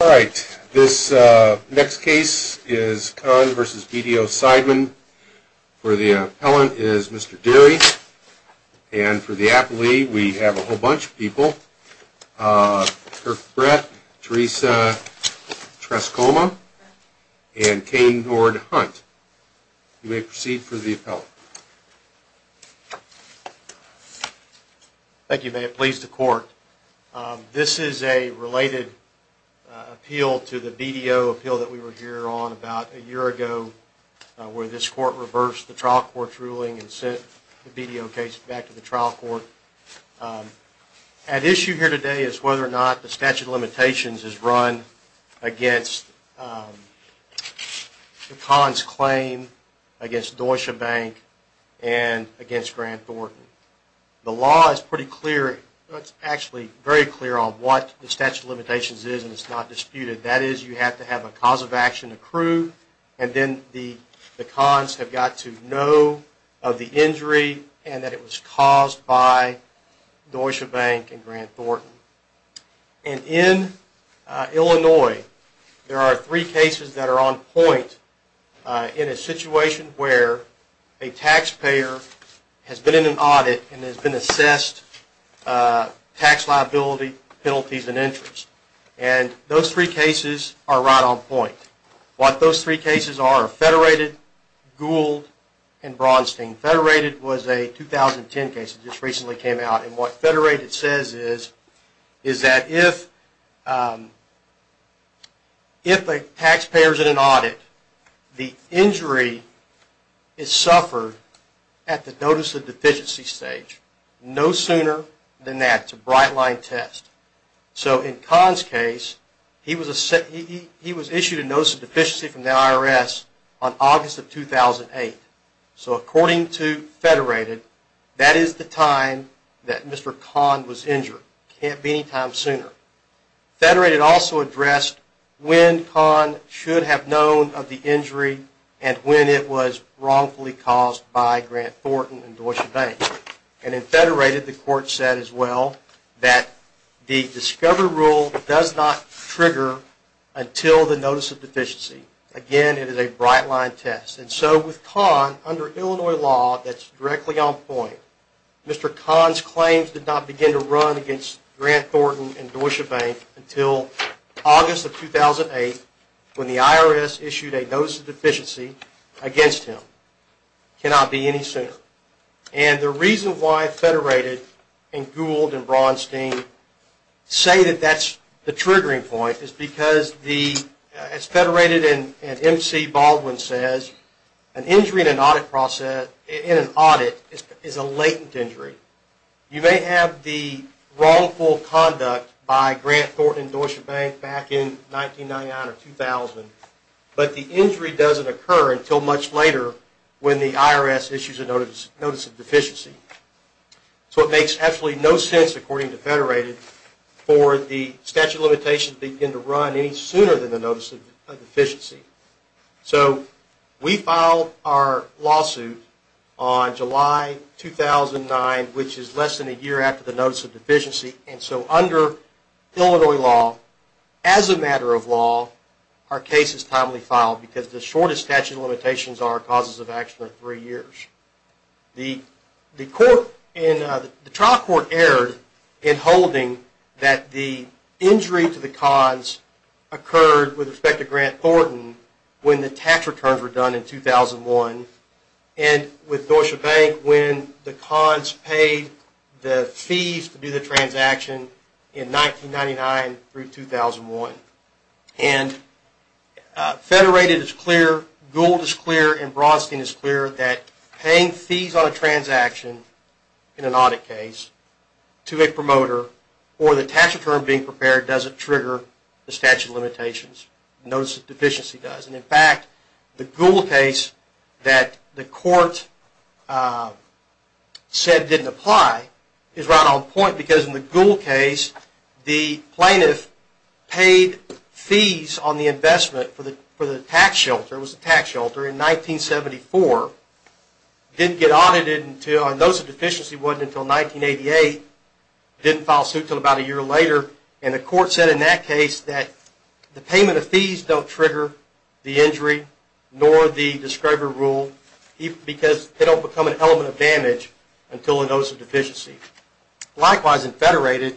All right, this next case is Kahn v. BDO Seidman. For the appellant is Mr. Derry. And for the appellee, we have a whole bunch of people. Kirk Brett, Teresa Trescoma, and Kane Nord Hunt. You may proceed for the appellant. Thank you, may it please the court. This is a related appeal to the BDO appeal that we were here on about a year ago, where this court reversed the trial court's ruling and sent the BDO case back to the trial court. At issue here today is whether or not the statute of limitations is run against Kahn's claim, against Deutsche Bank, and against Grant Thornton. The law is pretty clear, it's actually very clear on what the statute of limitations is, and it's not disputed. That is, you have to have a cause of action approved, and then the Kahn's have got to know of the injury, and that it was caused by Deutsche Bank and Grant Thornton. And in Illinois, there are three cases that are on point in a situation where a taxpayer has been in an audit and has been assessed tax liability, penalties, and interest. And those three cases are right on point. What those three cases are are Federated, Gould, and Braunstein. Federated was a 2010 case that just recently came out, and what Federated says is that if a taxpayer is in an audit, the injury is suffered at the notice of deficiency stage. No sooner than that, it's a bright line test. So in Kahn's case, he was issued a notice of deficiency from the IRS on August of 2008. So according to Federated, that is the time that Mr. Kahn was injured. Can't be any time sooner. Federated also addressed when Kahn should have known of the injury and when it was wrongfully caused by Grant Thornton and Deutsche Bank. And in Federated, the court said as well that the Discover rule does not trigger until the notice of deficiency. Again, it is a bright line test. And so with Kahn, under Illinois law, that's directly on point. Mr. Kahn's claims did not begin to run against Grant Thornton and Deutsche Bank until August of 2008, when the IRS issued a notice of deficiency against him. Cannot be any sooner. And the reason why Federated and Gould and Braunstein say that that's the triggering point is because, as Federated and MC Baldwin says, an injury in an audit is a latent injury. You may have the wrongful conduct by Grant Thornton and Deutsche Bank back in 1999 or 2000, but the injury doesn't occur until much later when the IRS issues a notice of deficiency. So it makes absolutely no sense, according to Federated, for the statute of limitations to begin to run any sooner than the notice of deficiency. So we filed our lawsuit on July 2009, which is less than a year after the notice of deficiency. And so under Illinois law, as a matter of law, our case is timely filed because the shortest statute limitations are causes of action are three years. The trial court erred in holding that the injury to the Kahn's occurred with respect to Grant Thornton when the tax returns were done in 2001, and with Deutsche Bank when the Kahn's paid the fees to do the transaction in 1999 through 2001. And Federated is clear, Gould is clear, and Braunstein is clear that paying fees on a transaction in an audit case to a promoter or the tax return being prepared doesn't trigger the statute of limitations. Notice of deficiency does. And in fact, the Gould case that the court said didn't apply is right on point, because in the Gould case, the plaintiff paid fees on the investment for the tax shelter, it was a tax shelter, in 1974, didn't get audited until a notice of deficiency wasn't until 1988, didn't file a suit until about a year later. And the court said in that case that the payment of fees don't trigger the injury, nor the describer rule, because they don't become an element of damage until a notice of deficiency. Likewise, in Federated,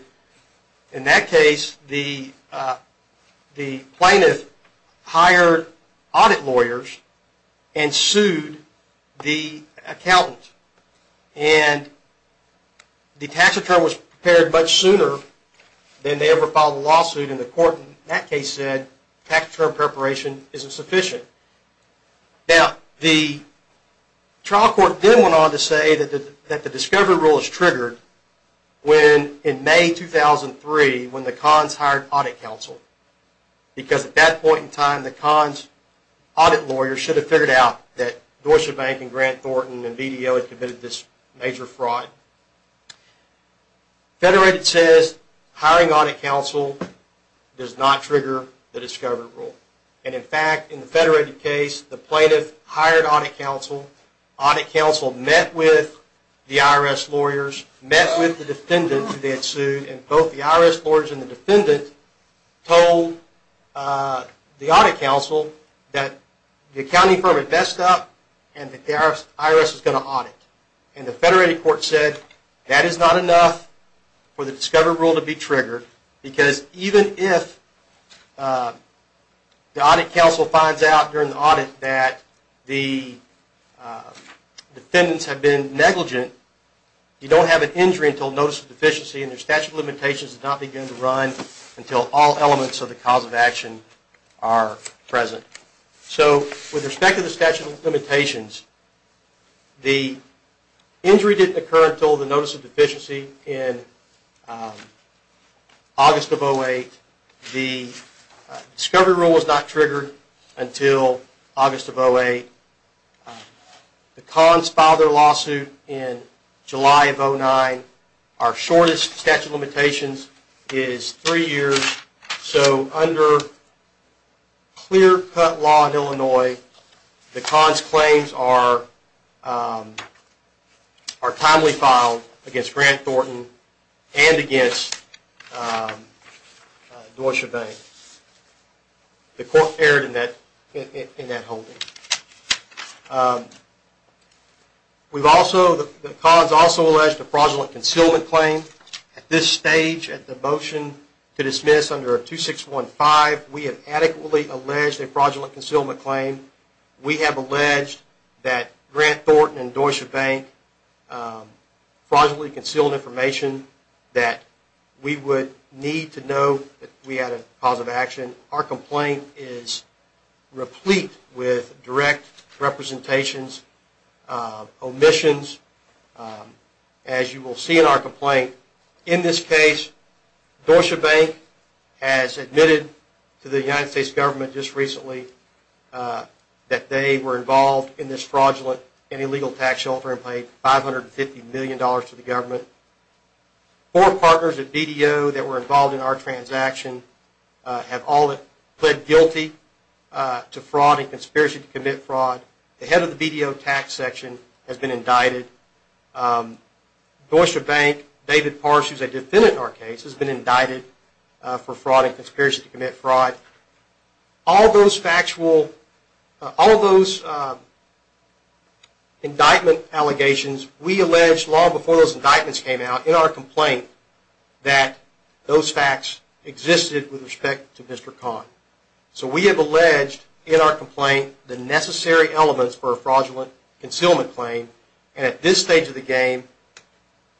in that case, the plaintiff hired audit lawyers and sued the accountant. And the tax return was prepared much sooner than they ever filed a lawsuit. And the court in that case said tax return preparation isn't sufficient. Now, the trial court then went on to say that the describer rule is triggered when, in May 2003, when the cons hired audit counsel. Because at that point in time, the cons audit lawyer should have figured out that Deutsche Bank and Grant Thornton and VDO had committed this major fraud. Now, Federated says hiring audit counsel does not trigger the describer rule. And in fact, in the Federated case, the plaintiff hired audit counsel. Audit counsel met with the IRS lawyers, met with the defendant who they had sued. And both the IRS lawyers and the defendant told the audit counsel that the accounting firm had messed up and the IRS was going to audit. And the Federated court said that is not enough for the describer rule to be triggered. Because even if the audit counsel finds out during the audit that the defendants have been negligent, you don't have an injury until notice of deficiency. And their statute of limitations does not begin to run until all elements of the cause of action are present. So with respect to the statute of limitations, the injury didn't occur until the notice of deficiency in August of 08. The discovery rule was not triggered until August of 08. The cons filed their lawsuit in July of 09. Our shortest statute of limitations is three years. So under clear-cut law in Illinois, the cons' claims are timely filed against Grant Thornton and against Doysha Vane. The court erred in that holding. We've also, the cons also alleged a fraudulent concealment claim. At this stage, at the motion to dismiss under 2615, we have adequately alleged a fraudulent concealment claim. We have alleged that Grant Thornton and Doysha Vane fraudulently concealed information that we would need to know that we had a cause of action. Our complaint is replete with direct representations, omissions. As you will see in our complaint, in this case, Doysha Vane has admitted to the United States government just recently that they were involved in this fraudulent and illegal tax shelter and paid $550 million to the government. Four partners at BDO that were involved in our transaction have all pled guilty to fraud and conspiracy to commit fraud. The head of the BDO tax section has been indicted. Doysha Vane, David Parsons, who's a defendant in our case, has been indicted for fraud and conspiracy to commit fraud. All those factual, all those indictment allegations, we alleged long before those indictments came out in our complaint that those facts existed with respect to Mr. Khan. So we have alleged in our complaint the necessary elements for a fraudulent concealment claim and at this stage of the game,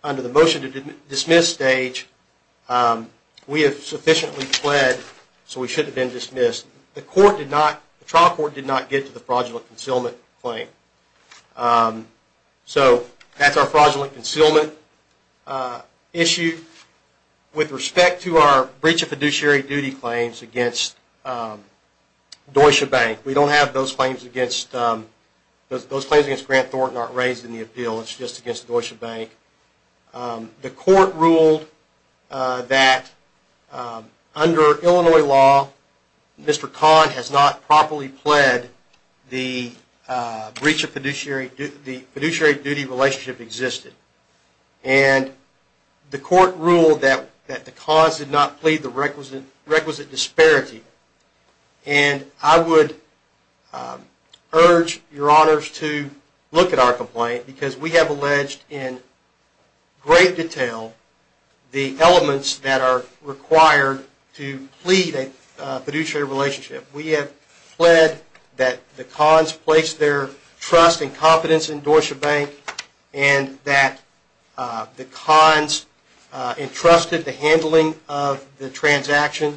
under the motion to dismiss stage, we have sufficiently pled so we should have been dismissed. The court did not, the trial court did not get to the fraudulent concealment claim. So that's our fraudulent concealment issue. With respect to our breach of fiduciary duty claims against Doysha Vane, we don't have those claims against Grant Thornton aren't raised in the appeal. It's just against Doysha Vane. The court ruled that under Illinois law, Mr. Khan has not properly pled the breach of fiduciary duty relationship existed. And the court ruled that the cause did not plead the requisite disparity. And I would urge your honors to look at our complaint because we have alleged in great detail the elements that are required to plead a fiduciary relationship. We have pled that the Khans placed their trust and confidence in Doysha Vane and that the Khans entrusted the handling of the transaction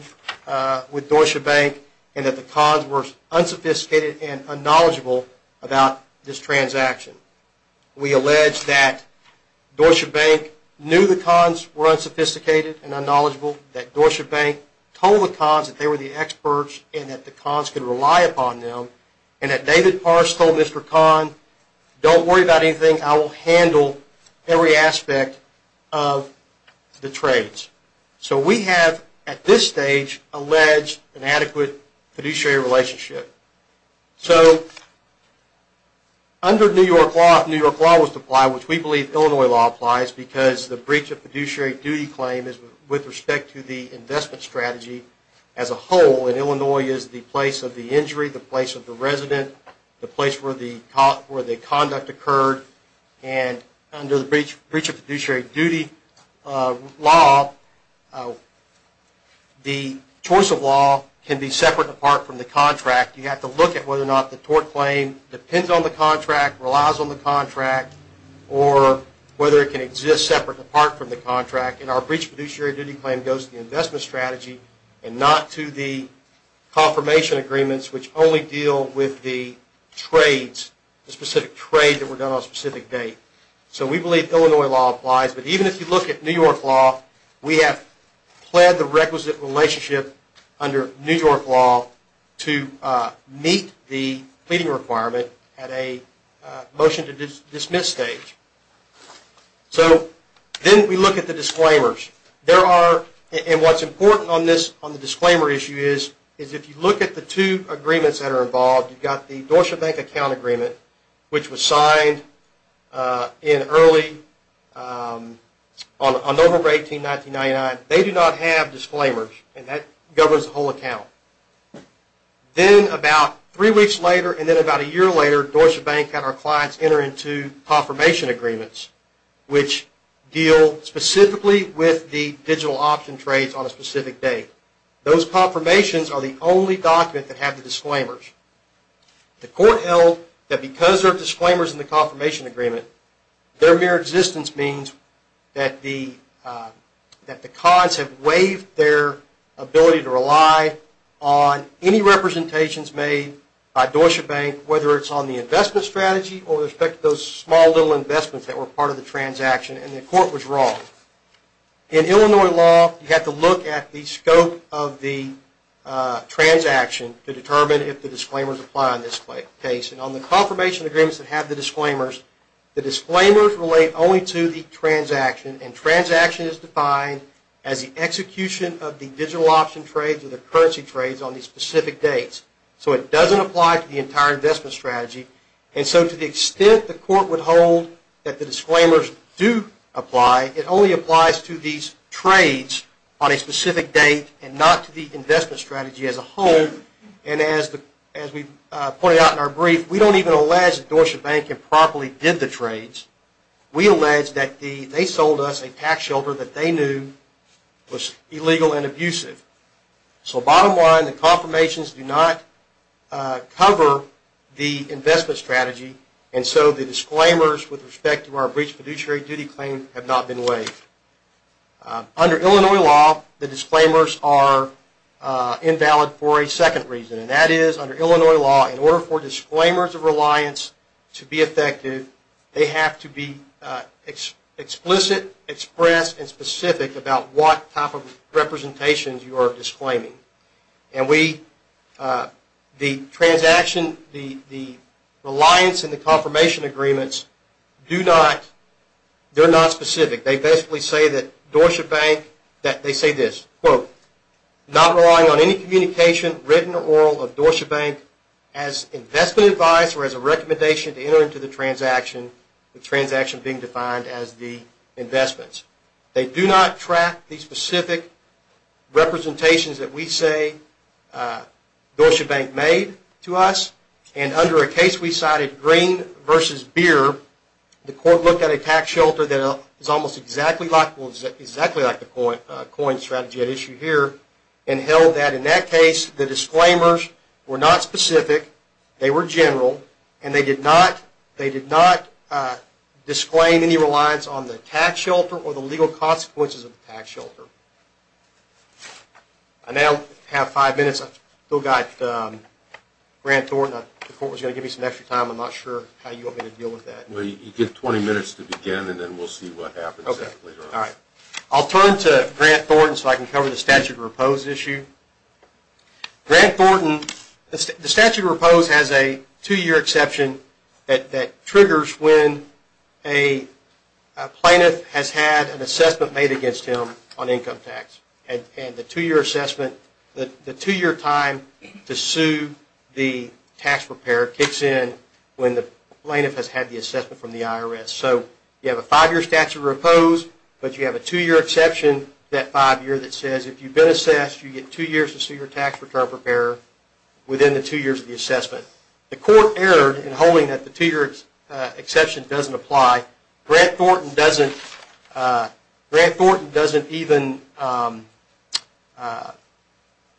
with Doysha Vane and that the Khans were unsophisticated and unknowledgeable about this transaction. We allege that Doysha Vane knew the Khans were unsophisticated and unknowledgeable, that Doysha Vane told the Khans that they were the experts and that the Khans could rely upon them, and that David Pars told Mr. Khan, don't worry about anything. I will handle every aspect of the trades. So we have, at this stage, alleged an adequate fiduciary relationship. So under New York law, which we believe Illinois law applies because the breach of fiduciary duty claim is with respect to the investment strategy as a whole. And Illinois is the place of the injury, the place of the resident, the place where the conduct occurred. And under the breach of fiduciary duty law, the choice of law can be separate apart from the contract. You have to look at whether or not the tort claim depends on the contract, relies on the contract, or whether it can exist separate apart from the contract. And our breach of fiduciary duty claim goes to the investment strategy and not to the confirmation agreements, which only deal with the specific trade that were done on a specific date. So we believe Illinois law applies. But even if you look at New York law, we have pled the requisite relationship under New York law to meet the pleading requirement at a motion to dismiss stage. So then we look at the disclaimers. And what's important on the disclaimer issue is if you look at the two agreements that are involved, you've got the Deutsche Bank account agreement, which was signed in early on November 18, 1999. They do not have disclaimers. And that governs the whole account. Then about three weeks later and then about a year later, Deutsche Bank had our clients enter into confirmation agreements, which deal specifically with the digital option trades on a specific date. Those confirmations are the only document that have the disclaimers. The court held that because there are disclaimers in the confirmation agreement, their mere existence means that the cons have waived their ability to rely on any representations made by Deutsche Bank, whether it's on the investment strategy or with respect to those small little investments that were part of the transaction. And the court was wrong. In Illinois law, you have to look at the scope of the transaction to determine if the disclaimers apply in this case. And on the confirmation agreements that have the disclaimers, the disclaimers relate only to the transaction. And transaction is defined as the execution of the digital option trades or the currency trades on these specific dates. So it doesn't apply to the entire investment strategy. And so to the extent the court would hold that the disclaimers do apply, it only applies to these trades on a specific date and not to the investment strategy as a whole. And as we pointed out in our brief, we don't even allege that Deutsche Bank improperly did the trades. We allege that they sold us a tax shelter that they knew was illegal and abusive. So bottom line, the confirmations do not cover the investment strategy. And so the disclaimers with respect to our breached fiduciary duty claim have not been waived. Under Illinois law, the disclaimers are invalid for a second reason. And that is under Illinois law, in order for disclaimers of reliance to be effective, they have to be explicit, expressed, and specific about what type of representations you are disclaiming. And the transaction, the reliance and the confirmation agreements, they're not specific. They basically say that Deutsche Bank, they say this. Quote, not relying on any communication, written or oral, of Deutsche Bank as investment advice or as a recommendation to enter into the transaction, the transaction being defined as the investments. They do not track the specific representations that we say Deutsche Bank made to us. And under a case we cited, Green versus Beer, the court looked at a tax shelter that is almost exactly like the coin strategy at issue here and held that in that case, the disclaimers were not specific. They were general. And they did not disclaim any reliance on the tax shelter or the legal consequences of the tax shelter. I now have five minutes. I've still got Grant Thornton. The court was going to give me some extra time. I'm not sure how you want me to deal with that. You get 20 minutes to begin, and then we'll see what happens afterwards. I'll turn to Grant Thornton so I can cover the statute of repose issue. Grant Thornton, the statute of repose has a two-year exception that triggers when a plaintiff has had an assessment made against him on income tax. And the two-year assessment, the two-year time to sue the tax preparer kicks in when the plaintiff has had the assessment from the IRS. So you have a five-year statute of repose, but you have a two-year exception, that five-year, that says if you've been assessed, you get two years to sue your tax return preparer within the two years of the assessment. The court erred in holding that the two-year exception doesn't apply. Grant Thornton doesn't even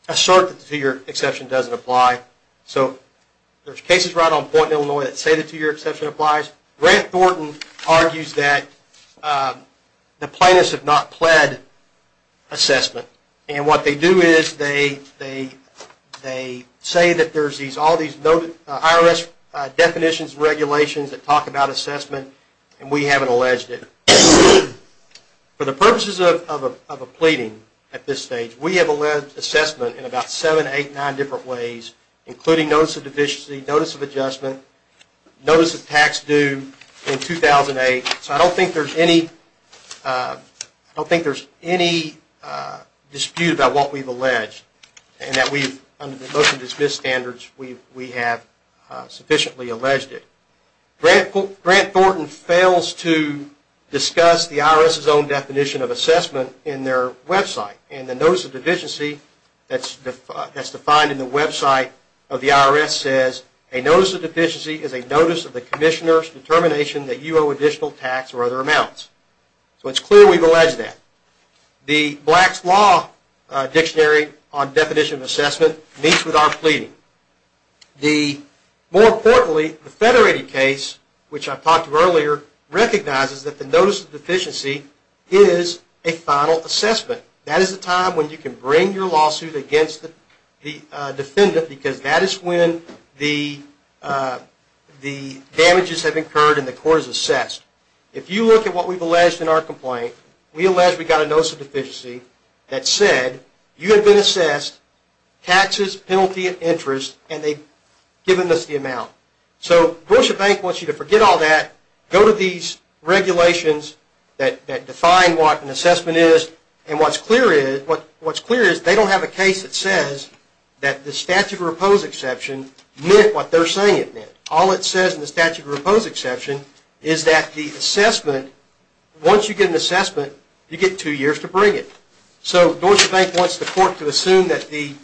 assert that the two-year exception doesn't apply. So there's cases right on point in Illinois that say the two-year exception applies. Grant Thornton argues that the plaintiffs have not pled assessment. And what they do is they say that there's all these IRS definitions and regulations that we haven't alleged it. For the purposes of a pleading at this stage, we have alleged assessment in about seven, eight, nine different ways, including notice of deficiency, notice of adjustment, notice of tax due in 2008. So I don't think there's any dispute about what we've alleged and that we've, under the motion to dismiss standards, we have sufficiently alleged it. Grant Thornton fails to discuss the IRS's own definition of assessment in their website. And the notice of deficiency that's defined in the website of the IRS says a notice of deficiency is a notice of the commissioner's determination that you owe additional tax or other amounts. So it's clear we've alleged that. The Black's Law Dictionary on definition of assessment meets with our pleading. More importantly, the Federated case, which I talked to earlier, recognizes that the notice of deficiency is a final assessment. That is a time when you can bring your lawsuit against the defendant because that is when the damages have occurred and the court is assessed. If you look at what we've alleged in our complaint, we allege we got a notice of deficiency that said, you have been assessed, taxes, penalty, and interest, and they've given us the amount. So Dorset Bank wants you to forget all that, go to these regulations that define what an assessment is, and what's clear is they don't have a case that says that the statute of repose exception meant what they're saying it meant. All it says in the statute of repose exception is that the assessment, once you get an assessment, you get two years to bring it. So Dorset Bank wants the court to assume that the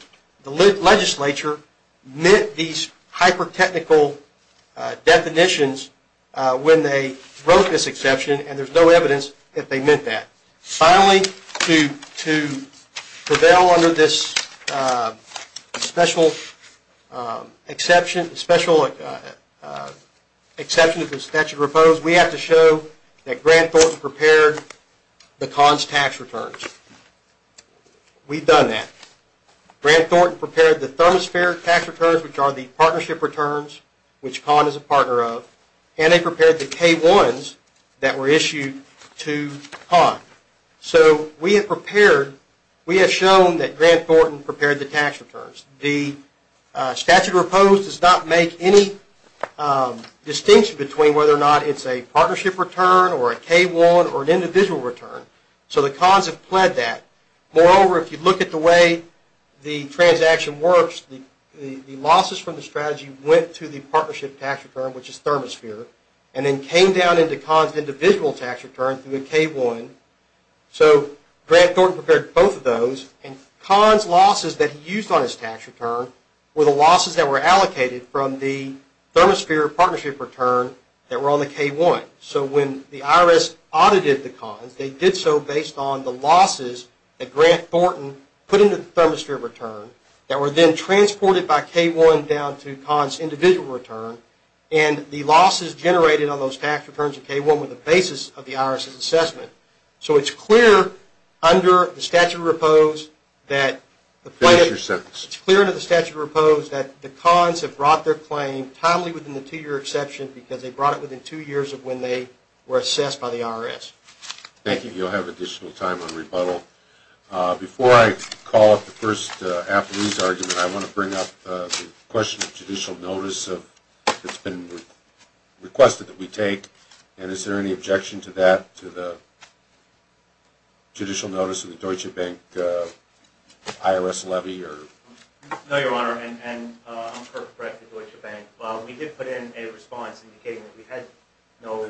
legislature meant these hyper-technical definitions when they wrote this exception, and there's no evidence that they meant that. Finally, to prevail under this special exception of the statute of repose, we have to show that Grant Thornton prepared the CONS tax returns. We've done that. Grant Thornton prepared the thermosphere tax returns, which are the partnership returns, which CONS is a partner of, and they prepared the K-1s that were issued to CONS. So we have shown that Grant Thornton prepared the tax returns. The statute of repose does not make any distinction between whether or not it's a partnership return, or a K-1, or an individual return. So the CONS have pled that. Moreover, if you look at the way the transaction works, the losses from the strategy went to the partnership tax return, which is thermosphere, and then came down into CONS' individual tax return through a K-1. So Grant Thornton prepared both of those, and CONS' losses that he used on his tax return were the losses that were allocated from the thermosphere partnership return that were on the K-1. So when the IRS audited the CONS, they did so based on the losses that Grant Thornton put into the thermosphere return that were then transported by K-1 down to CONS' individual return, and the losses generated on those tax returns of K-1 were the basis of the IRS' assessment. So it's clear under the statute of repose that the CONS have brought their claim timely within the two-year exception because they brought it within two years of when they were assessed by the IRS. Thank you. You'll have additional time on rebuttal. Before I call up the first affidavit argument, I want to bring up the question of judicial notice that's been requested that we take. And is there any objection to that, to the judicial notice of the Deutsche Bank IRS levy? No, Your Honor, and I'm Kirk Brecht of Deutsche Bank. We did put in a response indicating that we had no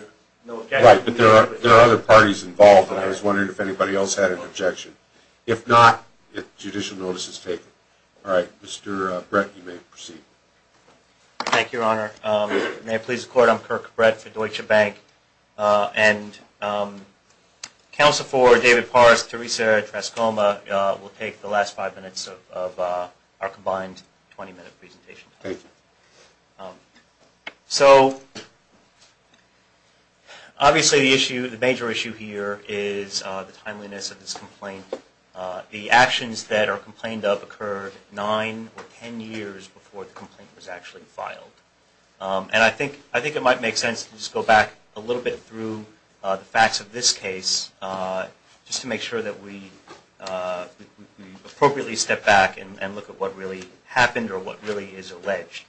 objection. Right, but there are other parties involved, and I was wondering if anybody else had an objection. If not, judicial notice is taken. All right, Mr. Brecht, you may proceed. Thank you, Your Honor. May it please the Court, I'm Kirk Brecht for Deutsche Bank. And counsel for David Parse, Teresa Trascoma will take the last five minutes of our combined 20-minute presentation. Thank you. So obviously, the issue, the major issue here is the timeliness of this complaint. The actions that are complained of occurred nine or 10 years before the complaint was actually filed. And I think it might make sense to just go back a little bit through the facts of this case, just to make sure that we appropriately step back and look at what really happened or what really is alleged.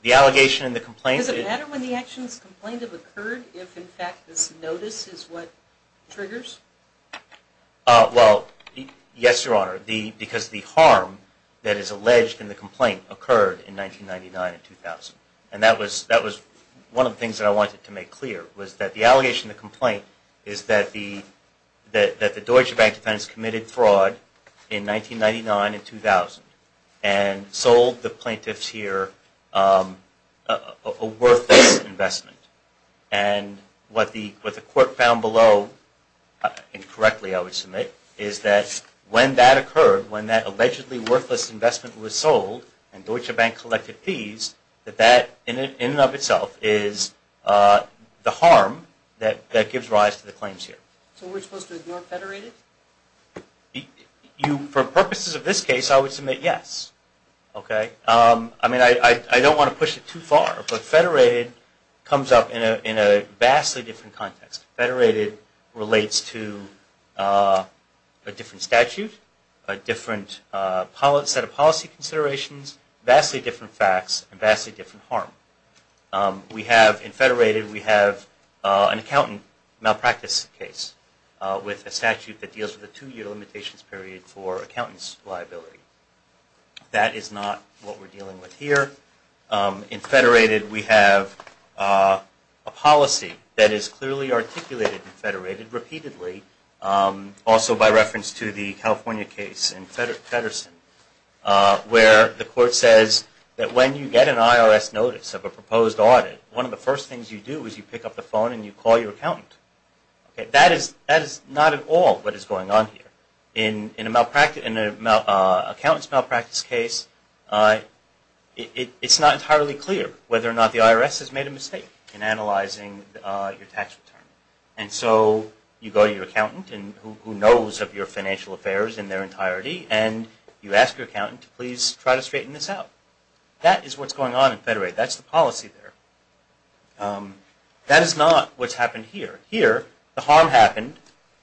The allegation and the complaint is a matter when the actions complained of occurred, if in fact this notice is what triggers? Well, yes, Your Honor, because the harm that is alleged in the complaint occurred in 1999 and 2000. And that was one of the things that I wanted to make clear, was that the allegation of the complaint is that the Deutsche Bank defense committed fraud in 1999 and 2000 and sold the plaintiffs here a worthless investment. And what the court found below, and correctly I would submit, is that when that occurred, when that allegedly worthless investment was sold and Deutsche Bank collected fees, that that in and of itself is the harm that gives rise to the claims here. So we're supposed to ignore Federated? For purposes of this case, I would submit yes. I mean, I don't want to push it too far, but Federated comes up in a vastly different context. Federated relates to a different statute, a different set of policy considerations, vastly different facts, and vastly different harm. We have, in Federated, we have an accountant malpractice case with a statute that deals with a two-year limitations period for accountant's liability. That is not what we're dealing with here. In Federated, we have a policy that is clearly articulated in Federated, repeatedly, also by reference to the California case in Feddersen, where the court says that when you get an IRS notice of a proposed audit, one of the first things you do is you pick up the phone and you call your accountant. That is not at all what is going on here. In an accountant's malpractice case, it's not entirely clear whether or not the IRS has made a mistake in analyzing your tax return. And so you go to your accountant, who knows of your financial affairs in their entirety, and you ask your accountant to please try to straighten this out. That is what's going on in Federated. That's the policy there. That is not what's happened here. Here, the harm happened.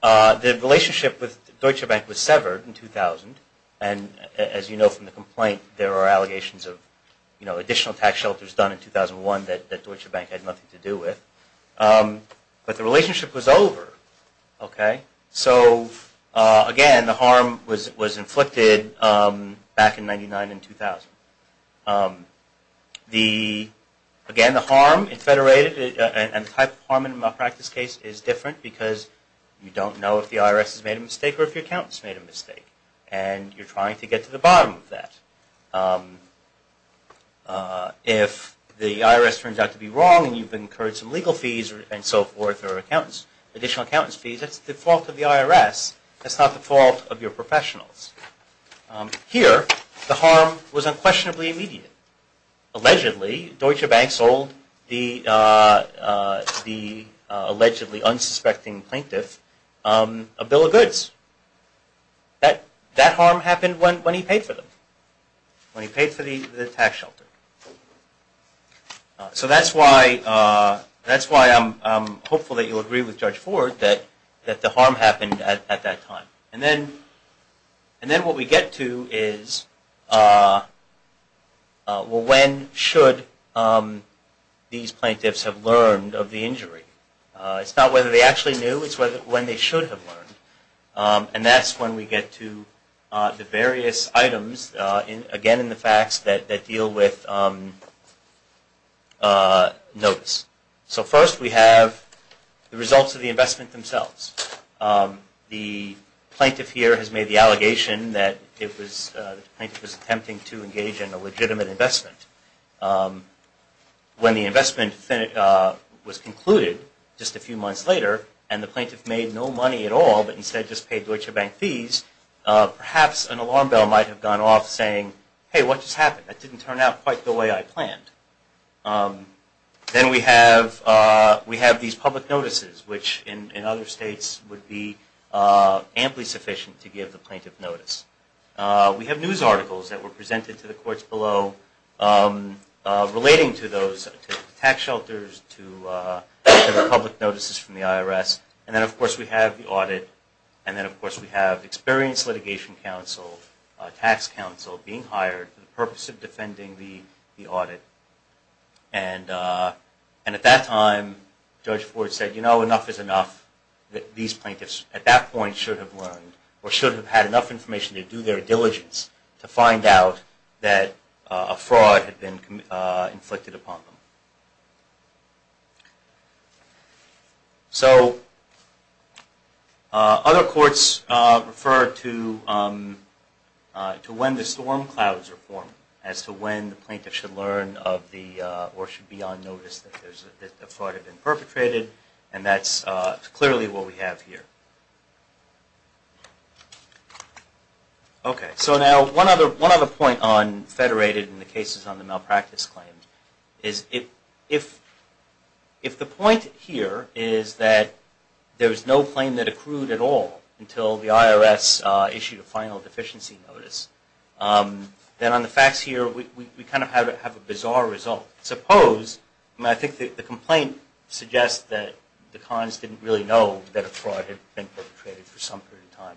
The relationship with Deutsche Bank was severed in 2000. And as you know from the complaint, there are allegations of additional tax shelters done in 2001 that Deutsche Bank had nothing to do with. But the relationship was over. OK. So again, the harm was inflicted back in 1999 and 2000. Again, the harm in Federated and the type of harm in a malpractice case is different because you don't know if the IRS has made a mistake or if your accountant's made a mistake. And you're trying to get to the bottom of that. If the IRS turns out to be wrong and you've incurred some legal fees and so forth, additional accountant's fees, that's the fault of the IRS. That's not the fault of your professionals. Here, the harm was unquestionably immediate. Allegedly, Deutsche Bank sold the allegedly unsuspecting plaintiff a bill of goods. That harm happened when he paid for them, when he paid for the tax shelter. So that's why I'm hopeful that you'll agree with Judge Ford that the harm happened at that time. And then what we get to is, well, when should these plaintiffs have learned of the injury? It's not whether they actually knew. It's when they should have learned. And that's when we get to the various items, again, in the facts that deal with notice. So first, we have the results of the investment themselves. The plaintiff here has made the allegation that the plaintiff was attempting to engage in a legitimate investment. When the investment was concluded just a few months later and the plaintiff made no money at all, but instead just paid Deutsche Bank fees, perhaps an alarm bell might have gone off saying, hey, what just happened? That didn't turn out quite the way I planned. Then we have these public notices, which in other states would be amply sufficient to give the plaintiff notice. We have news articles that were presented to the courts below relating to those tax shelters, to the public notices from the IRS. And then, of course, we have the audit. And then, of course, we have experienced litigation counsel, tax counsel being hired for the purpose of defending the audit. And at that time, Judge Ford said, you know, enough is enough. These plaintiffs, at that point, should have learned, or should have had enough information to do their diligence to find out that a fraud had been inflicted upon them. So other courts refer to when the storm clouds are formed, as to when the plaintiff should learn of the, or should be on notice that a fraud had been perpetrated. And that's clearly what we have here. OK, so now one other point on federated in the cases on the malpractice claims is if the point here is that there was no claim that accrued at all until the IRS issued a final deficiency notice, then on the facts here, we kind of have a bizarre result. Suppose, and I think that the complaint suggests that the cons didn't really know that a fraud had been perpetrated for some period of time.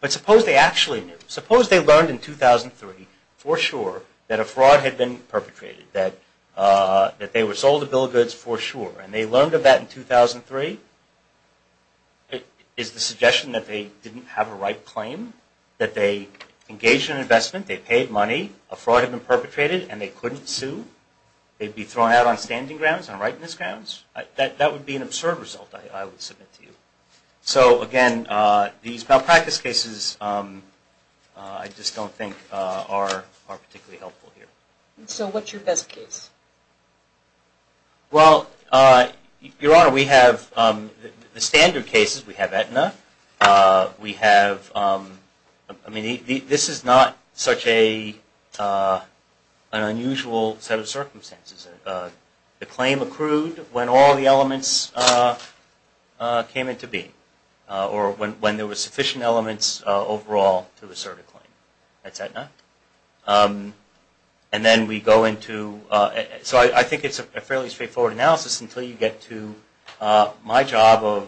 But suppose they actually knew. Suppose they learned in 2003, for sure, that a fraud had been perpetrated. That they were sold a bill of goods, for sure. And they learned of that in 2003. Is the suggestion that they didn't have a right claim? That they engaged in an investment, they paid money, a fraud had been perpetrated, and they couldn't sue? They'd be thrown out on standing grounds, on rightness grounds? That would be an absurd result, I would submit to you. So again, these malpractice cases, I just don't think, are particularly helpful here. So what's your best case? Well, Your Honor, we have the standard cases. We have Aetna. We have, I mean, this is not such an unusual set of circumstances. The claim accrued when all the elements came into being, or when there was sufficient elements overall to assert a claim. That's Aetna. And then we go into, so I think it's a fairly straightforward analysis, until you get to my job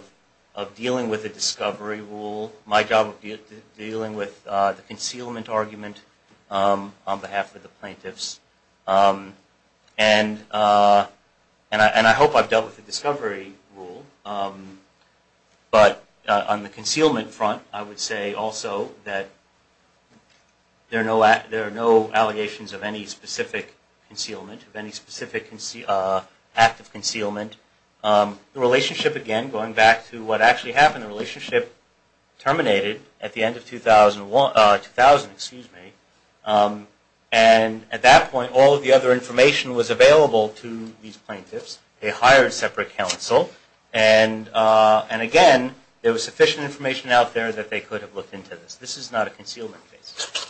of dealing with the discovery rule, my job of dealing with the concealment argument on behalf of the plaintiffs. And I hope I've dealt with the discovery rule. But on the concealment front, I would say also that there are no allegations of any specific concealment, of any specific act of concealment. The relationship, again, going back to what actually happened, the relationship terminated at the end of 2000. And at that point, all of the other information was available to these plaintiffs. They hired separate counsel. And again, there was sufficient information out there that they could have looked into this. This is not a concealment case.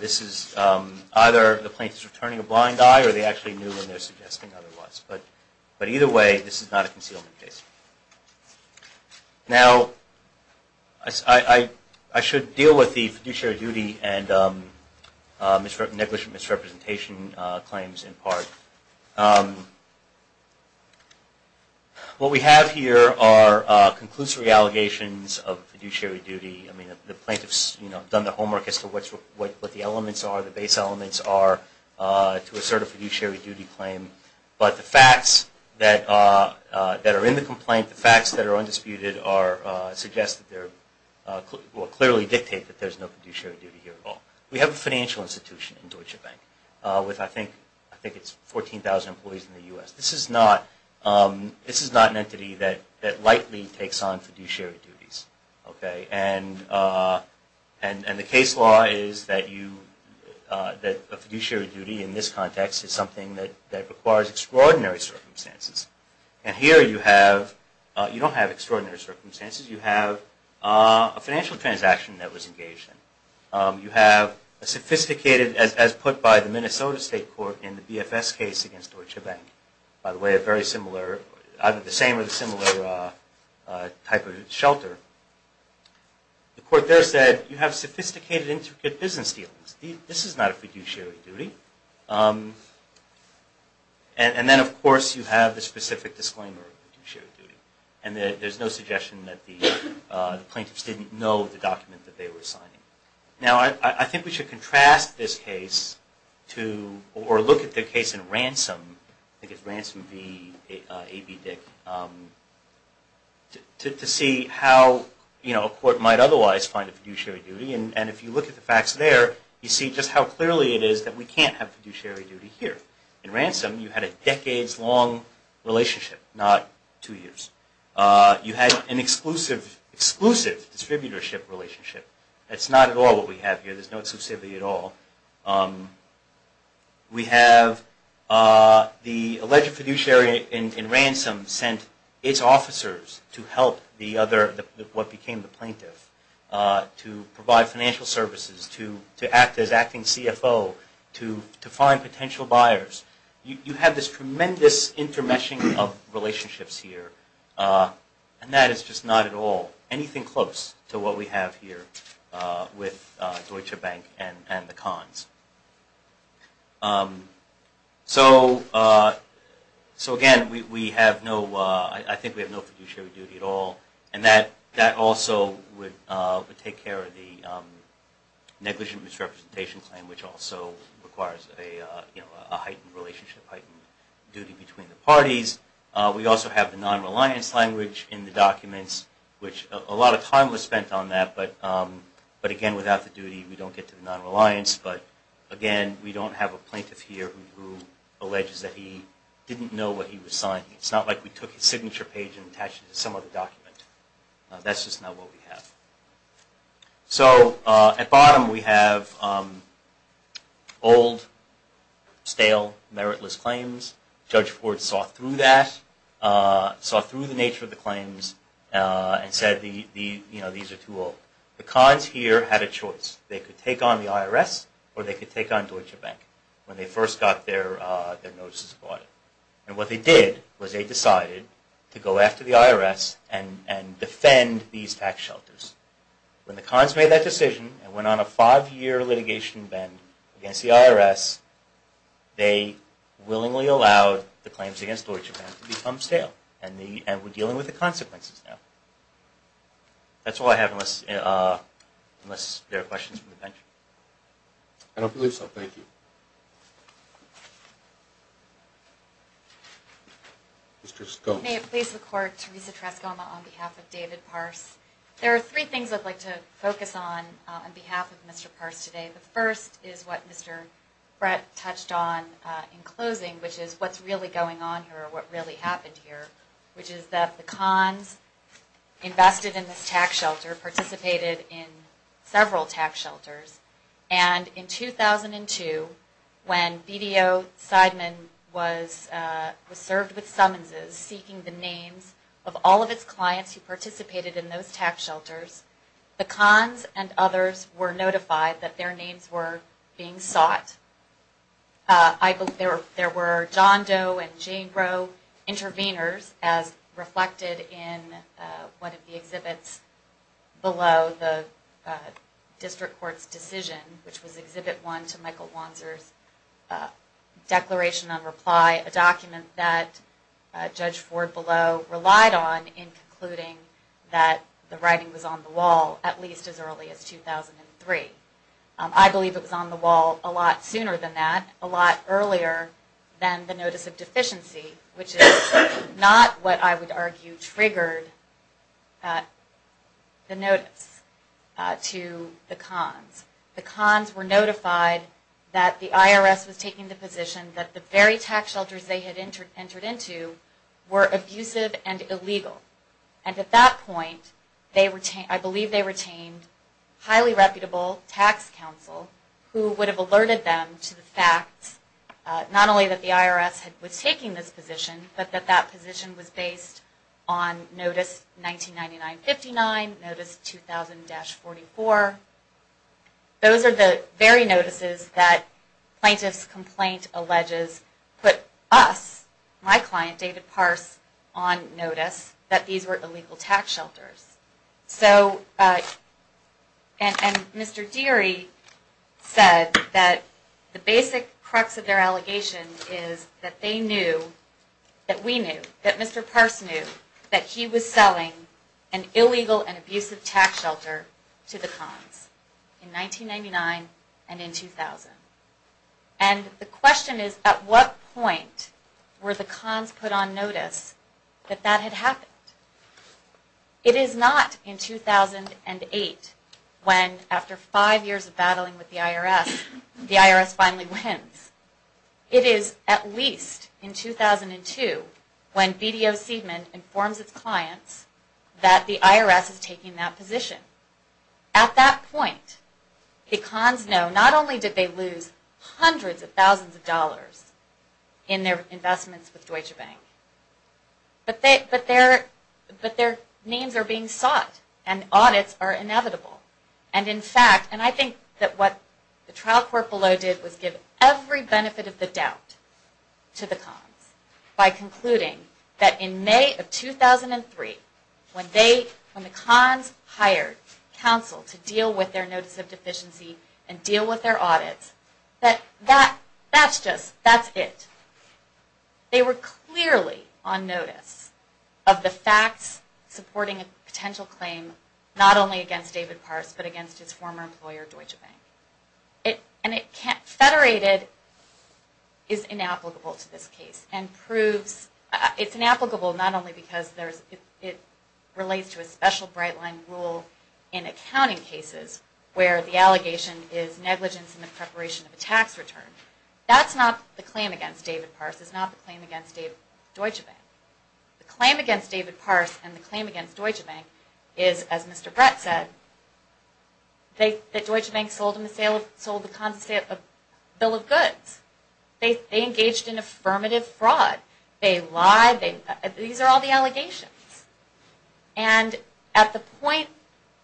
This is either the plaintiff's returning a blind eye, or they actually knew when they're suggesting otherwise. But either way, this is not a concealment case. Now, I should deal with the fiduciary duty and negligent misrepresentation claims in part. What we have here are conclusory allegations of fiduciary duty. The plaintiffs have done the homework as to what the elements are, the base elements are, to assert a fiduciary duty claim. But the facts that are in the complaint, the facts that are undisputed, suggest that they're clearly dictate that there's no fiduciary duty here at all. We have a financial institution in Deutsche Bank with, I think, it's 14,000 employees in the US. This is not an entity that lightly takes on fiduciary duties. And the case law is that a fiduciary duty in this context is something that requires extraordinary circumstances. And here, you don't have extraordinary circumstances. You have a financial transaction that was engaged in. You have a sophisticated, as put by the Minnesota State Court in the BFS case against Deutsche Bank, by the way, a very similar, either the same or the similar type of shelter. The court there said, you have sophisticated, intricate business dealings. This is not a fiduciary duty. And then, of course, you have the specific disclaimer of fiduciary duty. And there's no suggestion that the plaintiffs didn't know the document that they were signing. Now, I think we should contrast this case to, or look at the case in Ransom. I think it's Ransom v. A.B. Dick, to see how a court might otherwise find a fiduciary duty. And if you look at the facts there, you see just how clearly it is that we can't have fiduciary duty here. In Ransom, you had a decades-long relationship, not two years. You had an exclusive distributorship relationship. That's not at all what we have here. There's no exclusivity at all. We have the alleged fiduciary in Ransom sent its officers to help the other, what became the plaintiff, to provide financial services, to act as acting CFO, to find potential buyers. You have this tremendous intermeshing of relationships here. And that is just not at all anything close to what we have here with Deutsche Bank and the Kahns. So again, I think we have no fiduciary duty at all. And that also would take care of the negligent misrepresentation claim, which also requires a heightened relationship, heightened duty between the parties. We also have the non-reliance language in the documents, which a lot of time was spent on that. But again, without the duty, we don't get to the non-reliance. But again, we don't have a plaintiff here who alleges that he didn't know what he was signing. It's not like we took his signature page and attached it to some other document. That's just not what we have. So at bottom, we have old, stale, meritless claims. Judge Ford saw through that, saw through the nature of the claims, and said, these are too old. The Kahns here had a choice. They could take on the IRS, or they could take on Deutsche Bank when they first got their notices of audit. And what they did was they decided to go after the IRS and defend these tax shelters. When the Kahns made that decision and went on a five-year litigation bend against the IRS, they willingly allowed the claims against Deutsche Bank to become stale and we're dealing with the consequences now. That's all I have, unless there are questions from the bench. I don't believe so. Thank you. Mr. Scone. May it please the court, Teresa Trescoma on behalf of David Parse. There are three things I'd like to focus on on behalf of Mr. Parse today. The first is what Mr. Brett touched on in closing, which is what's really going on here, what really happened here, which is that the Kahns invested in this tax shelter, participated in several tax shelters. And in 2002, when BDO Seidman was served with summonses seeking the names of all of its clients who participated in those tax shelters, the Kahns and others were notified that their names were being sought. I believe there were John Doe and Jane Roe intervenors, as reflected in one of the exhibits below the district court's decision, which was Exhibit 1 to Michael Wanzer's Declaration on Reply, a document that Judge Ford below relied on in concluding that the writing was on the wall, at least as early as 2003. I believe it was on the wall a lot sooner than that, a lot earlier than the notice of deficiency, which is not what I would argue triggered the notice to the Kahns. The Kahns were notified that the IRS was taking the position that the very tax shelters they had entered into were abusive and illegal. And at that point, I believe they retained highly reputable tax counsel who would have alerted them to the fact not only that the IRS was taking this position, but that that position was based on Notice 1999-59, Notice 2000-44. Those are the very notices that plaintiff's complaint alleges put us, my client David Parse, on notice that these were illegal tax shelters. So, and Mr. Deary said that the basic crux of their allegation is that they knew, that we knew, that Mr. Parse knew, that he was selling an illegal and abusive tax shelter to the Kahns in 1999 and in 2000. And the question is, at what point were the Kahns put on notice that that had happened? It is not in 2008 when, after five years of battling with the IRS, the IRS finally wins. It is at least in 2002 when BDO Seidman informs its clients that the IRS is taking that position. At that point, the Kahns know not only did they lose hundreds of thousands of dollars in their investments with Deutsche Bank, but their names are being sought and audits are inevitable. And in fact, and I think that what the trial court below did was give every benefit of the doubt to the Kahns by concluding that in May of 2003, when the Kahns hired counsel to deal with their notice of deficiency and deal with their audits, that's just, that's it. They were clearly on notice of the facts supporting a potential claim not only against David Parse, but against his former employer, Deutsche Bank. And it can't, federated is inapplicable to this case and proves, it's inapplicable not only because it relates to a special bright line rule in accounting cases where the allegation is negligence in the preparation of a tax return. That's not the claim against David Parse. It's not the claim against Deutsche Bank. The claim against David Parse and the claim against Deutsche Bank is, as Mr. Brett said, that Deutsche Bank sold the Kahns bill of goods. They engaged in affirmative fraud. They lied. These are all the allegations. And at the point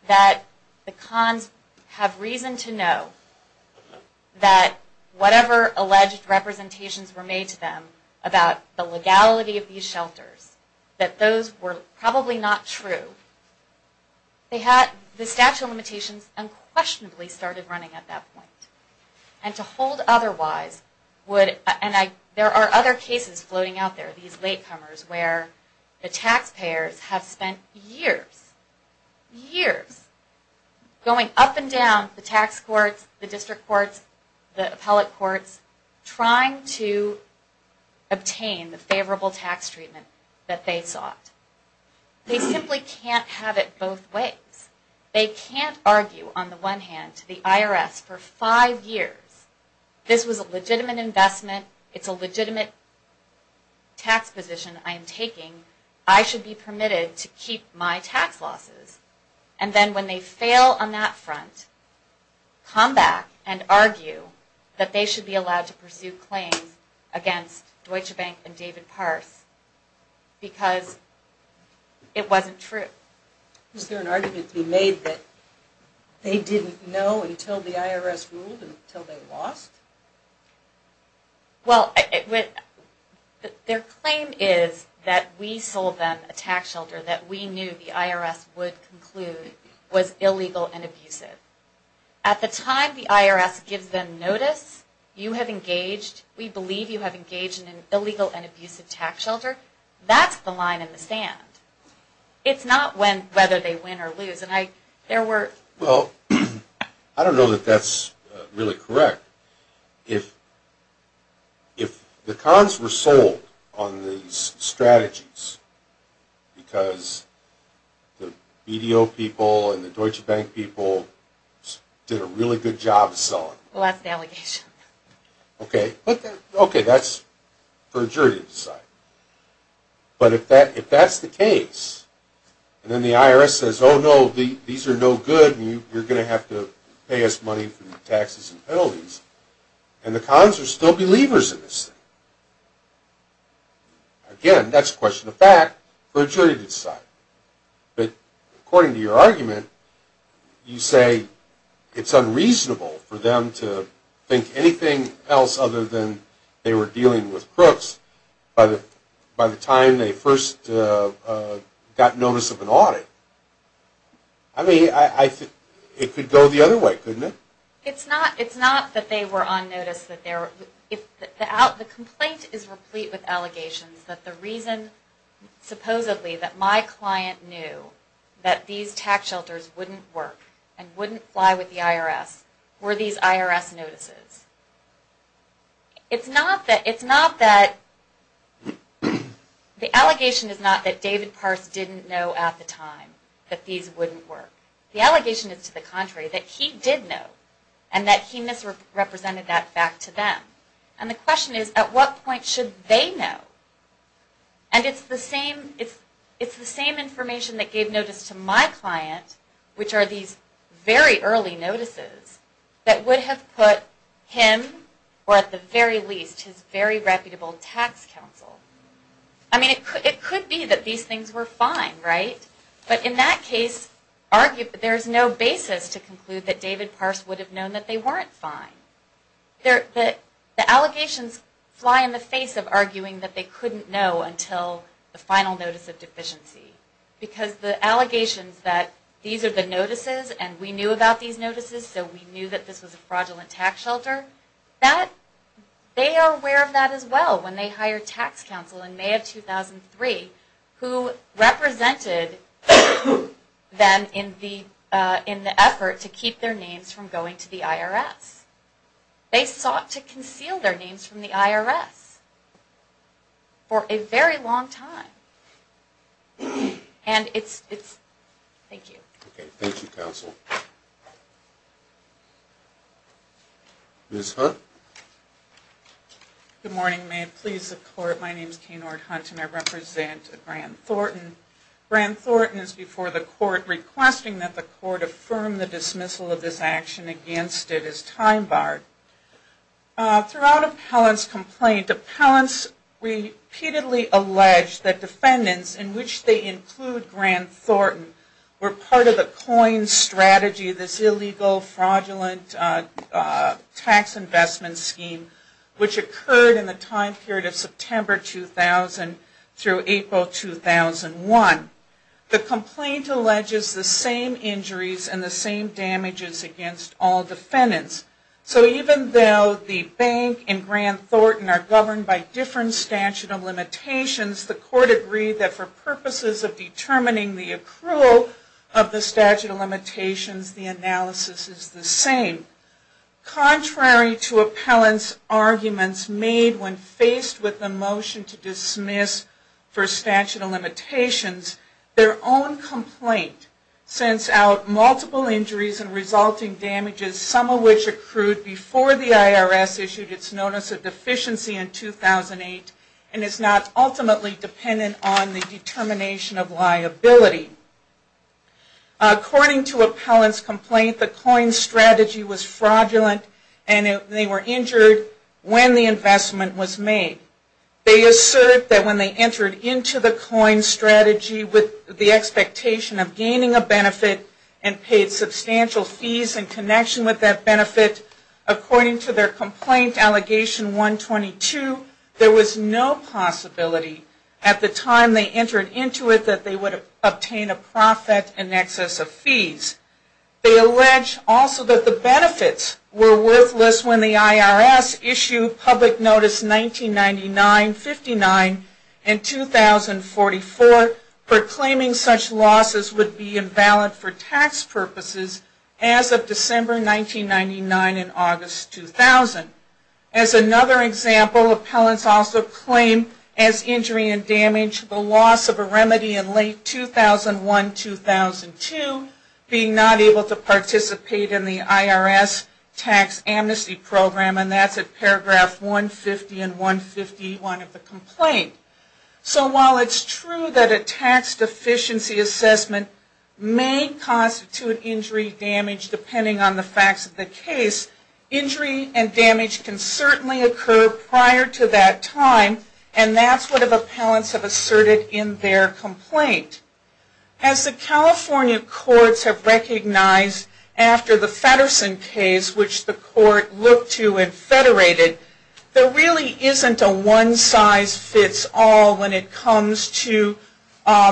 that the Kahns have reason to know that whatever alleged representations were made to them about the legality of these shelters, that those were probably not true, the statute of limitations unquestionably started running at that point. And to hold otherwise would, and there are other cases floating out there, these late comers, where the taxpayers have spent years, years going up and down the tax courts, the district courts, the appellate courts, trying to obtain the favorable tax treatment that they sought. They simply can't have it both ways. They can't argue on the one hand to the IRS for five years. This was a legitimate investment. It's a legitimate tax position I am taking. I should be permitted to keep my tax losses. And then when they fail on that front, come back and argue that they should be allowed to pursue claims against Deutsche Bank and David Parse because it wasn't true. Is there an argument to be made that they didn't know until the IRS ruled and until they lost? Well, their claim is that we sold them a tax shelter, that we knew the IRS would conclude was illegal and abusive. At the time the IRS gives them notice, you have engaged, we believe you have engaged in an illegal and abusive tax shelter, that's the line in the sand. It's not whether they win or lose. And there were. Well, I don't know that that's really correct. If the cons were sold on these strategies because the BDO people and the Deutsche Bank people did a really good job of selling. Well, that's an allegation. OK. OK, that's for a jury to decide. But if that's the case, and then the IRS says, oh no, these are no good and you're going to have to pay us money for the taxes and penalties, and the cons are still believers in this thing, again, that's a question of fact for a jury to decide. But according to your argument, you say it's unreasonable for them to think anything else other than they were dealing with crooks by the time they first got notice of an audit. I mean, it could go the other way, couldn't it? It's not that they were on notice. If the complaint is replete with allegations that the reason, supposedly, that my client knew that these tax shelters wouldn't work and wouldn't fly with the IRS were these IRS notices. It's not that the allegation is not that David Parse didn't know at the time that these wouldn't work. The allegation is to the contrary, that he did know and that he misrepresented that fact to them. And the question is, at what point should they know? And it's the same information that gave notice to my client, which are these very early notices, that would have put him, or at the very least, his very reputable tax counsel. I mean, it could be that these things were fine, right? But in that case, there's no basis to conclude that David Parse would have known that they weren't fine. The allegations fly in the face of arguing that they couldn't know until the final notice of deficiency. Because the allegations that these are the notices and we knew about these notices, so we knew that this was a fraudulent tax shelter, they are aware of that as well, when they hired tax counsel in May of 2003, who represented them in the effort to keep their names from going to the IRS. They sought to conceal their names from the IRS for a very long time. And it's, it's, thank you. OK. Thank you, counsel. Ms. Hunt? Good morning, may it please the court, my name is Kay Nord Hunt and I represent Grant Thornton. Grant Thornton is before the court requesting that the court affirm the dismissal of this action against it as time barred. Throughout Appellant's complaint, Appellant's repeatedly alleged that defendants, in which they include Grant Thornton, were part of the COIN strategy, this illegal fraudulent tax investment scheme, which occurred in the time period of September 2000 through April 2001. The complaint alleges the same injuries and the same damages against all defendants. So even though the bank and Grant Thornton are governed by different statute of limitations, the court agreed that for purposes of determining the accrual of the statute of limitations, the analysis is the same. Contrary to Appellant's arguments made when faced with the motion to dismiss for statute of limitations, their own complaint sends out multiple injuries and resulting damages, some of which accrued before the IRS issued its notice of deficiency in 2008 and is not ultimately dependent on the determination of liability. According to Appellant's complaint, the COIN strategy was fraudulent and they were injured when the investment was made. They assert that when they entered into the COIN strategy with the expectation of gaining a benefit and paid substantial fees in connection with that benefit, according to their complaint, Allegation 122, there was no possibility at the time they entered into it that they would obtain a profit in excess of fees. They allege also that the benefits were worthless when the IRS issued public notice 1999, 59, and 2044, proclaiming such losses would be invalid for tax purposes as of December 1999 and August 2000. As another example, Appellants also claim, as injury and damage, the loss of a remedy in late 2001, 2002, being not able to participate in the IRS tax amnesty program, and that's at paragraph 150 and 151 of the complaint. So while it's true that a tax deficiency assessment may constitute injury damage depending on the facts of the case, injury and damage can certainly occur prior to that time, and that's what Appellants have asserted in their complaint. As the California courts have recognized after the Feddersen case, which the court looked to and federated, there really isn't a one-size-fits-all when it comes to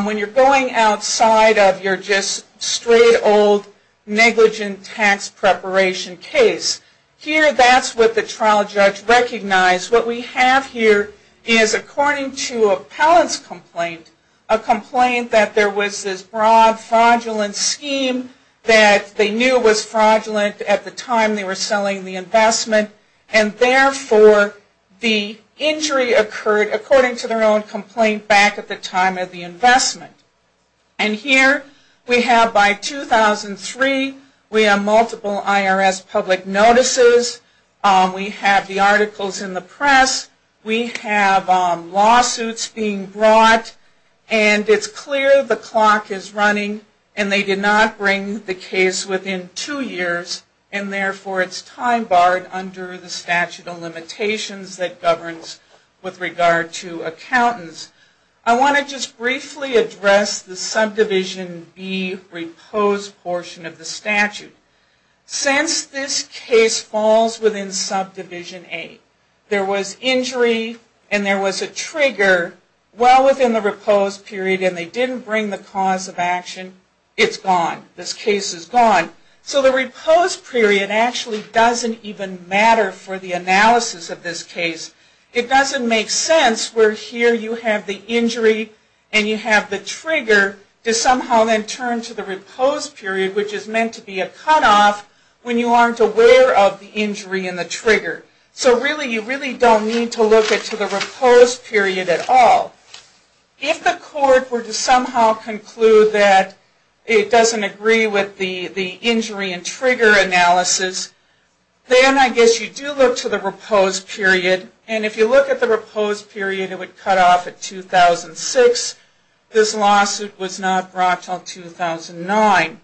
when you're going outside of your just straight old negligent tax preparation case. Here, that's what the trial judge recognized. What we have here is, according to Appellants' complaint, a complaint that there was this broad fraudulent scheme that they knew was fraudulent at the time they were selling the investment, and therefore, the injury occurred according to their own complaint back at the time of the investment. And here, we have by 2003, we have multiple IRS public notices, we have the articles in the press, we have lawsuits being brought, and it's clear the clock is running, and they did not bring the case within two years, and therefore, it's time barred under the statute of limitations that governs with regard to accountants. I want to just briefly address the subdivision B reposed portion of the statute. Since this case falls within subdivision A, there was injury and there was a trigger well within the reposed period, and they didn't bring the cause of action, it's gone. This case is gone. So the reposed period actually doesn't even matter for the analysis of this case. It doesn't make sense where here you have the injury and you have the trigger to somehow then turn to the reposed period, which is meant to be a cutoff when you aren't aware of the injury and the trigger. So really, you really don't need to look to the reposed period at all. If the court were to somehow conclude that it doesn't agree with the injury and trigger analysis, then I guess you do look to the reposed period, and if you look at the reposed period, it would cut off at 2006. This lawsuit was not brought until 2009.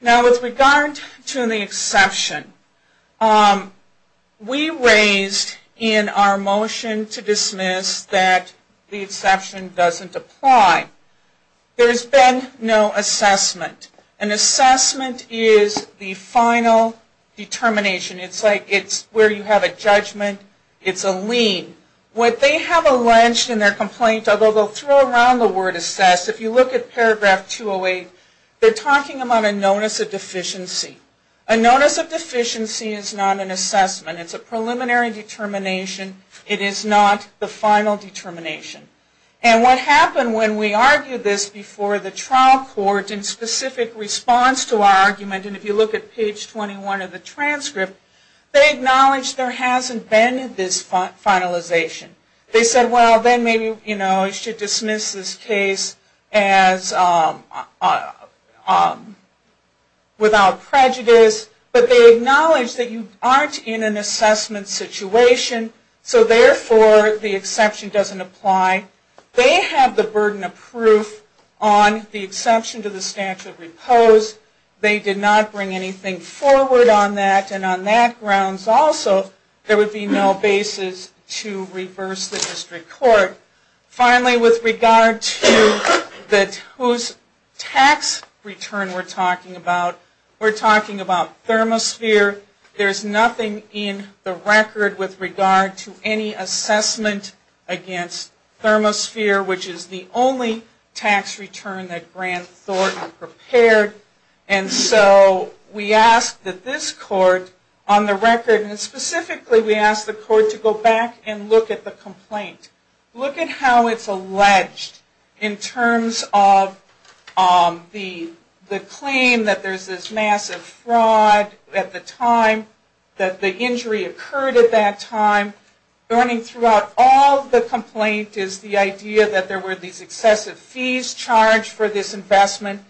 Now, with regard to the exception, we raised in our motion to dismiss that the exception doesn't apply. There's been no assessment. An assessment is the final determination. It's like it's where you have a judgment, it's a lien. What they have alleged in their complaint, although they'll throw around the word assess, if you look at paragraph 208, they're talking about a notice of deficiency. A notice of deficiency is not an assessment. It's a preliminary determination. It is not the final determination. And what happened when we argued this before the trial court in specific response to our argument, and if you look at page 21 of the transcript, they acknowledged there hasn't been this finalization. They said, well, then maybe, you know, we should dismiss this case as without prejudice. But they acknowledged that you aren't in an assessment situation, so therefore, the exception doesn't apply. They have the burden of proof on the exception to the statute of repose. They did not bring anything forward on that, and on that grounds also, there would be no basis to reverse the district court. Finally, with regard to whose tax return we're talking about, we're talking about Thermosphere. There's nothing in the record with regard to any assessment against Thermosphere, which is the only tax return that Grant Thornton prepared. And so we ask that this court on the record, and specifically, we ask the court to go back and look at the how it's alleged in terms of the claim that there's this massive fraud at the time, that the injury occurred at that time. Running throughout all the complaint is the idea that there were these excessive fees charged for this investment.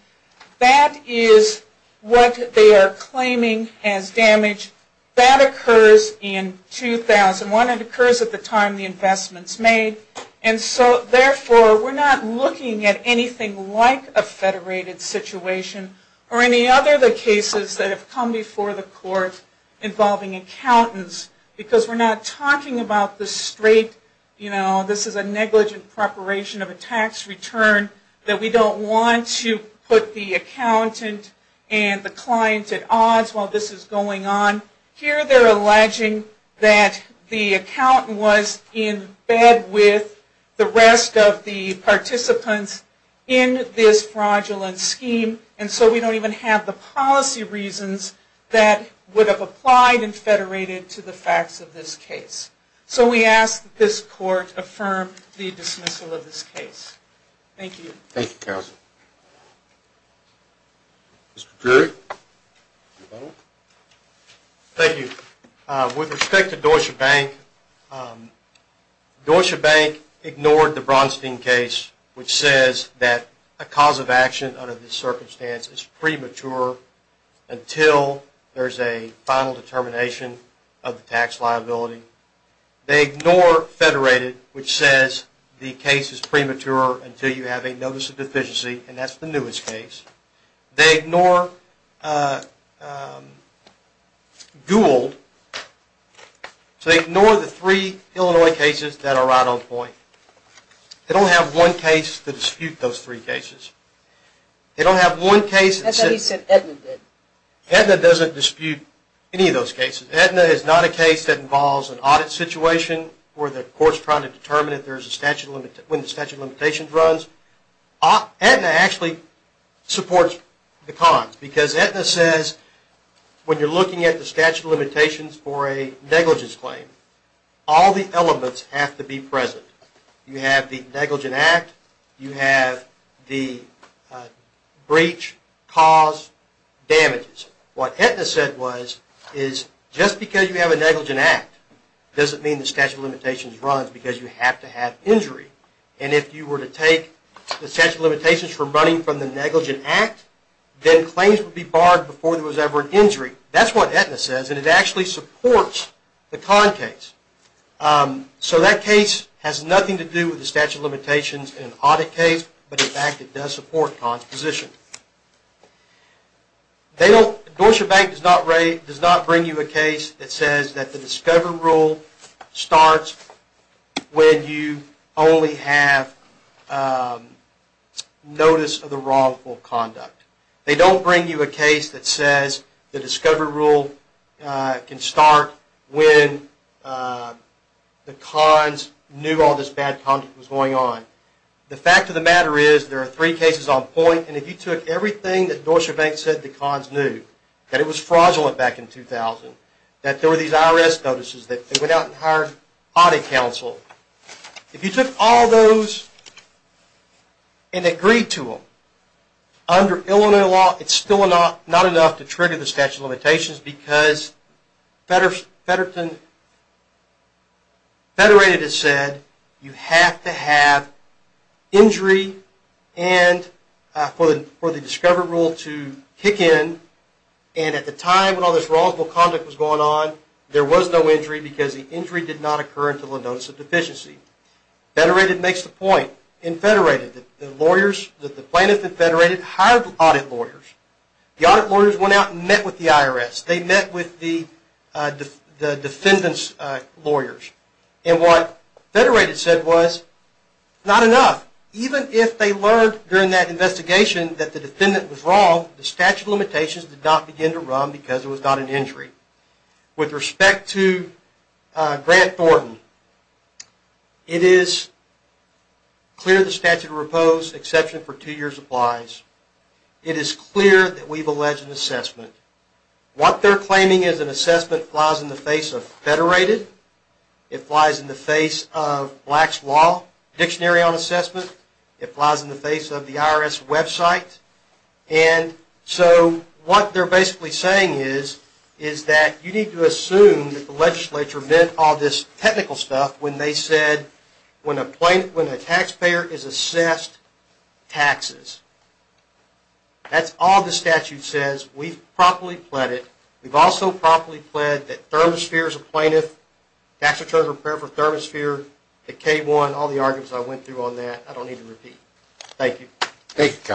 That is what they are claiming as damage. That occurs in 2001. It occurs at the time the investment's made. And so therefore, we're not looking at anything like a federated situation or any other of the cases that have come before the court involving accountants, because we're not talking about the straight, you know, this is a negligent preparation of a tax return that we don't want to put the accountant and the client at odds while this is going on. Here, they're alleging that the accountant was in bed with the rest of the participants in this fraudulent scheme, and so we don't even have the policy reasons that would have applied and federated to the facts of this case. So we ask that this court affirm the dismissal of this case. Thank you. Thank you, Carol. Mr. Curry? Thank you. With respect to Deutsche Bank, Deutsche Bank ignored the Bronstein case, which says that a cause of action under this circumstance is premature until there's a final determination of the tax liability. They ignore federated, which says the case is premature until you have a notice of deficiency, and that's the newest case. They ignore Gould, so they ignore the three Illinois cases that are right on point. They don't have one case to dispute those three cases. They don't have one case that says- I thought you said Aetna did. Aetna doesn't dispute any of those cases. Aetna is not a case that involves an audit situation where the court's trying to determine if there's a statute limit, when the statute of limitations runs. Aetna actually supports the cons, because Aetna says, when you're looking at the statute of limitations for a negligence claim, all the elements have to be present. You have the negligent act. You have the breach, cause, damages. What Aetna said was, just because you have a negligent act doesn't mean the statute of limitations runs, because you have to have injury. And if you were to take the statute of limitations for running from the negligent act, then claims would be barred before there was ever an injury. That's what Aetna says, and it actually supports the con case. So that case has nothing to do with the statute of limitations in an audit case, but in fact, it does support con's position. Deutsche Bank does not bring you a case that says that the discovery rule starts when you only have notice of the wrongful conduct. They don't bring you a case that says the discovery rule can start when the cons knew all this bad conduct was going on. The fact of the matter is, there are three cases on point, and if you took everything that Deutsche Bank said the cons knew, that it was fraudulent back in 2000, that there were these IRS notices that went out and hired audit counsel, if you took all those and agreed to them, under Illinois law, it's still not enough to trigger the statute of limitations, because Federated has said you have to have injury for the discovery rule to kick in, and at the time when all this wrongful conduct was going on, there was no injury, because the injury did not occur until a notice of deficiency. Federated makes the point, that the plaintiff and Federated hired audit lawyers. The audit lawyers went out and met with the IRS. They met with the defendant's lawyers. And what Federated said was, not enough. Even if they learned during that investigation that the defendant was wrong, the statute of limitations did not begin to run, because there was not an injury. With respect to Grant Thornton, it is clear the statute of repose, exception for two years, applies. It is clear that we've alleged an assessment. What they're claiming is an assessment that flies in the face of Federated, it flies in the face of Black's Law Dictionary on Assessment, it flies in the face of the IRS website. And so what they're basically saying is, is that you need to assume that the legislature meant all this technical stuff when they said, when a taxpayer is assessed, taxes. That's all the statute says. We've properly pled it. We've also properly pled that Thermosphere is a plaintiff, tax returns are prepared for Thermosphere, the K-1, all the arguments I went through on that, I don't need to repeat. Thank you. Thank you, Kevin.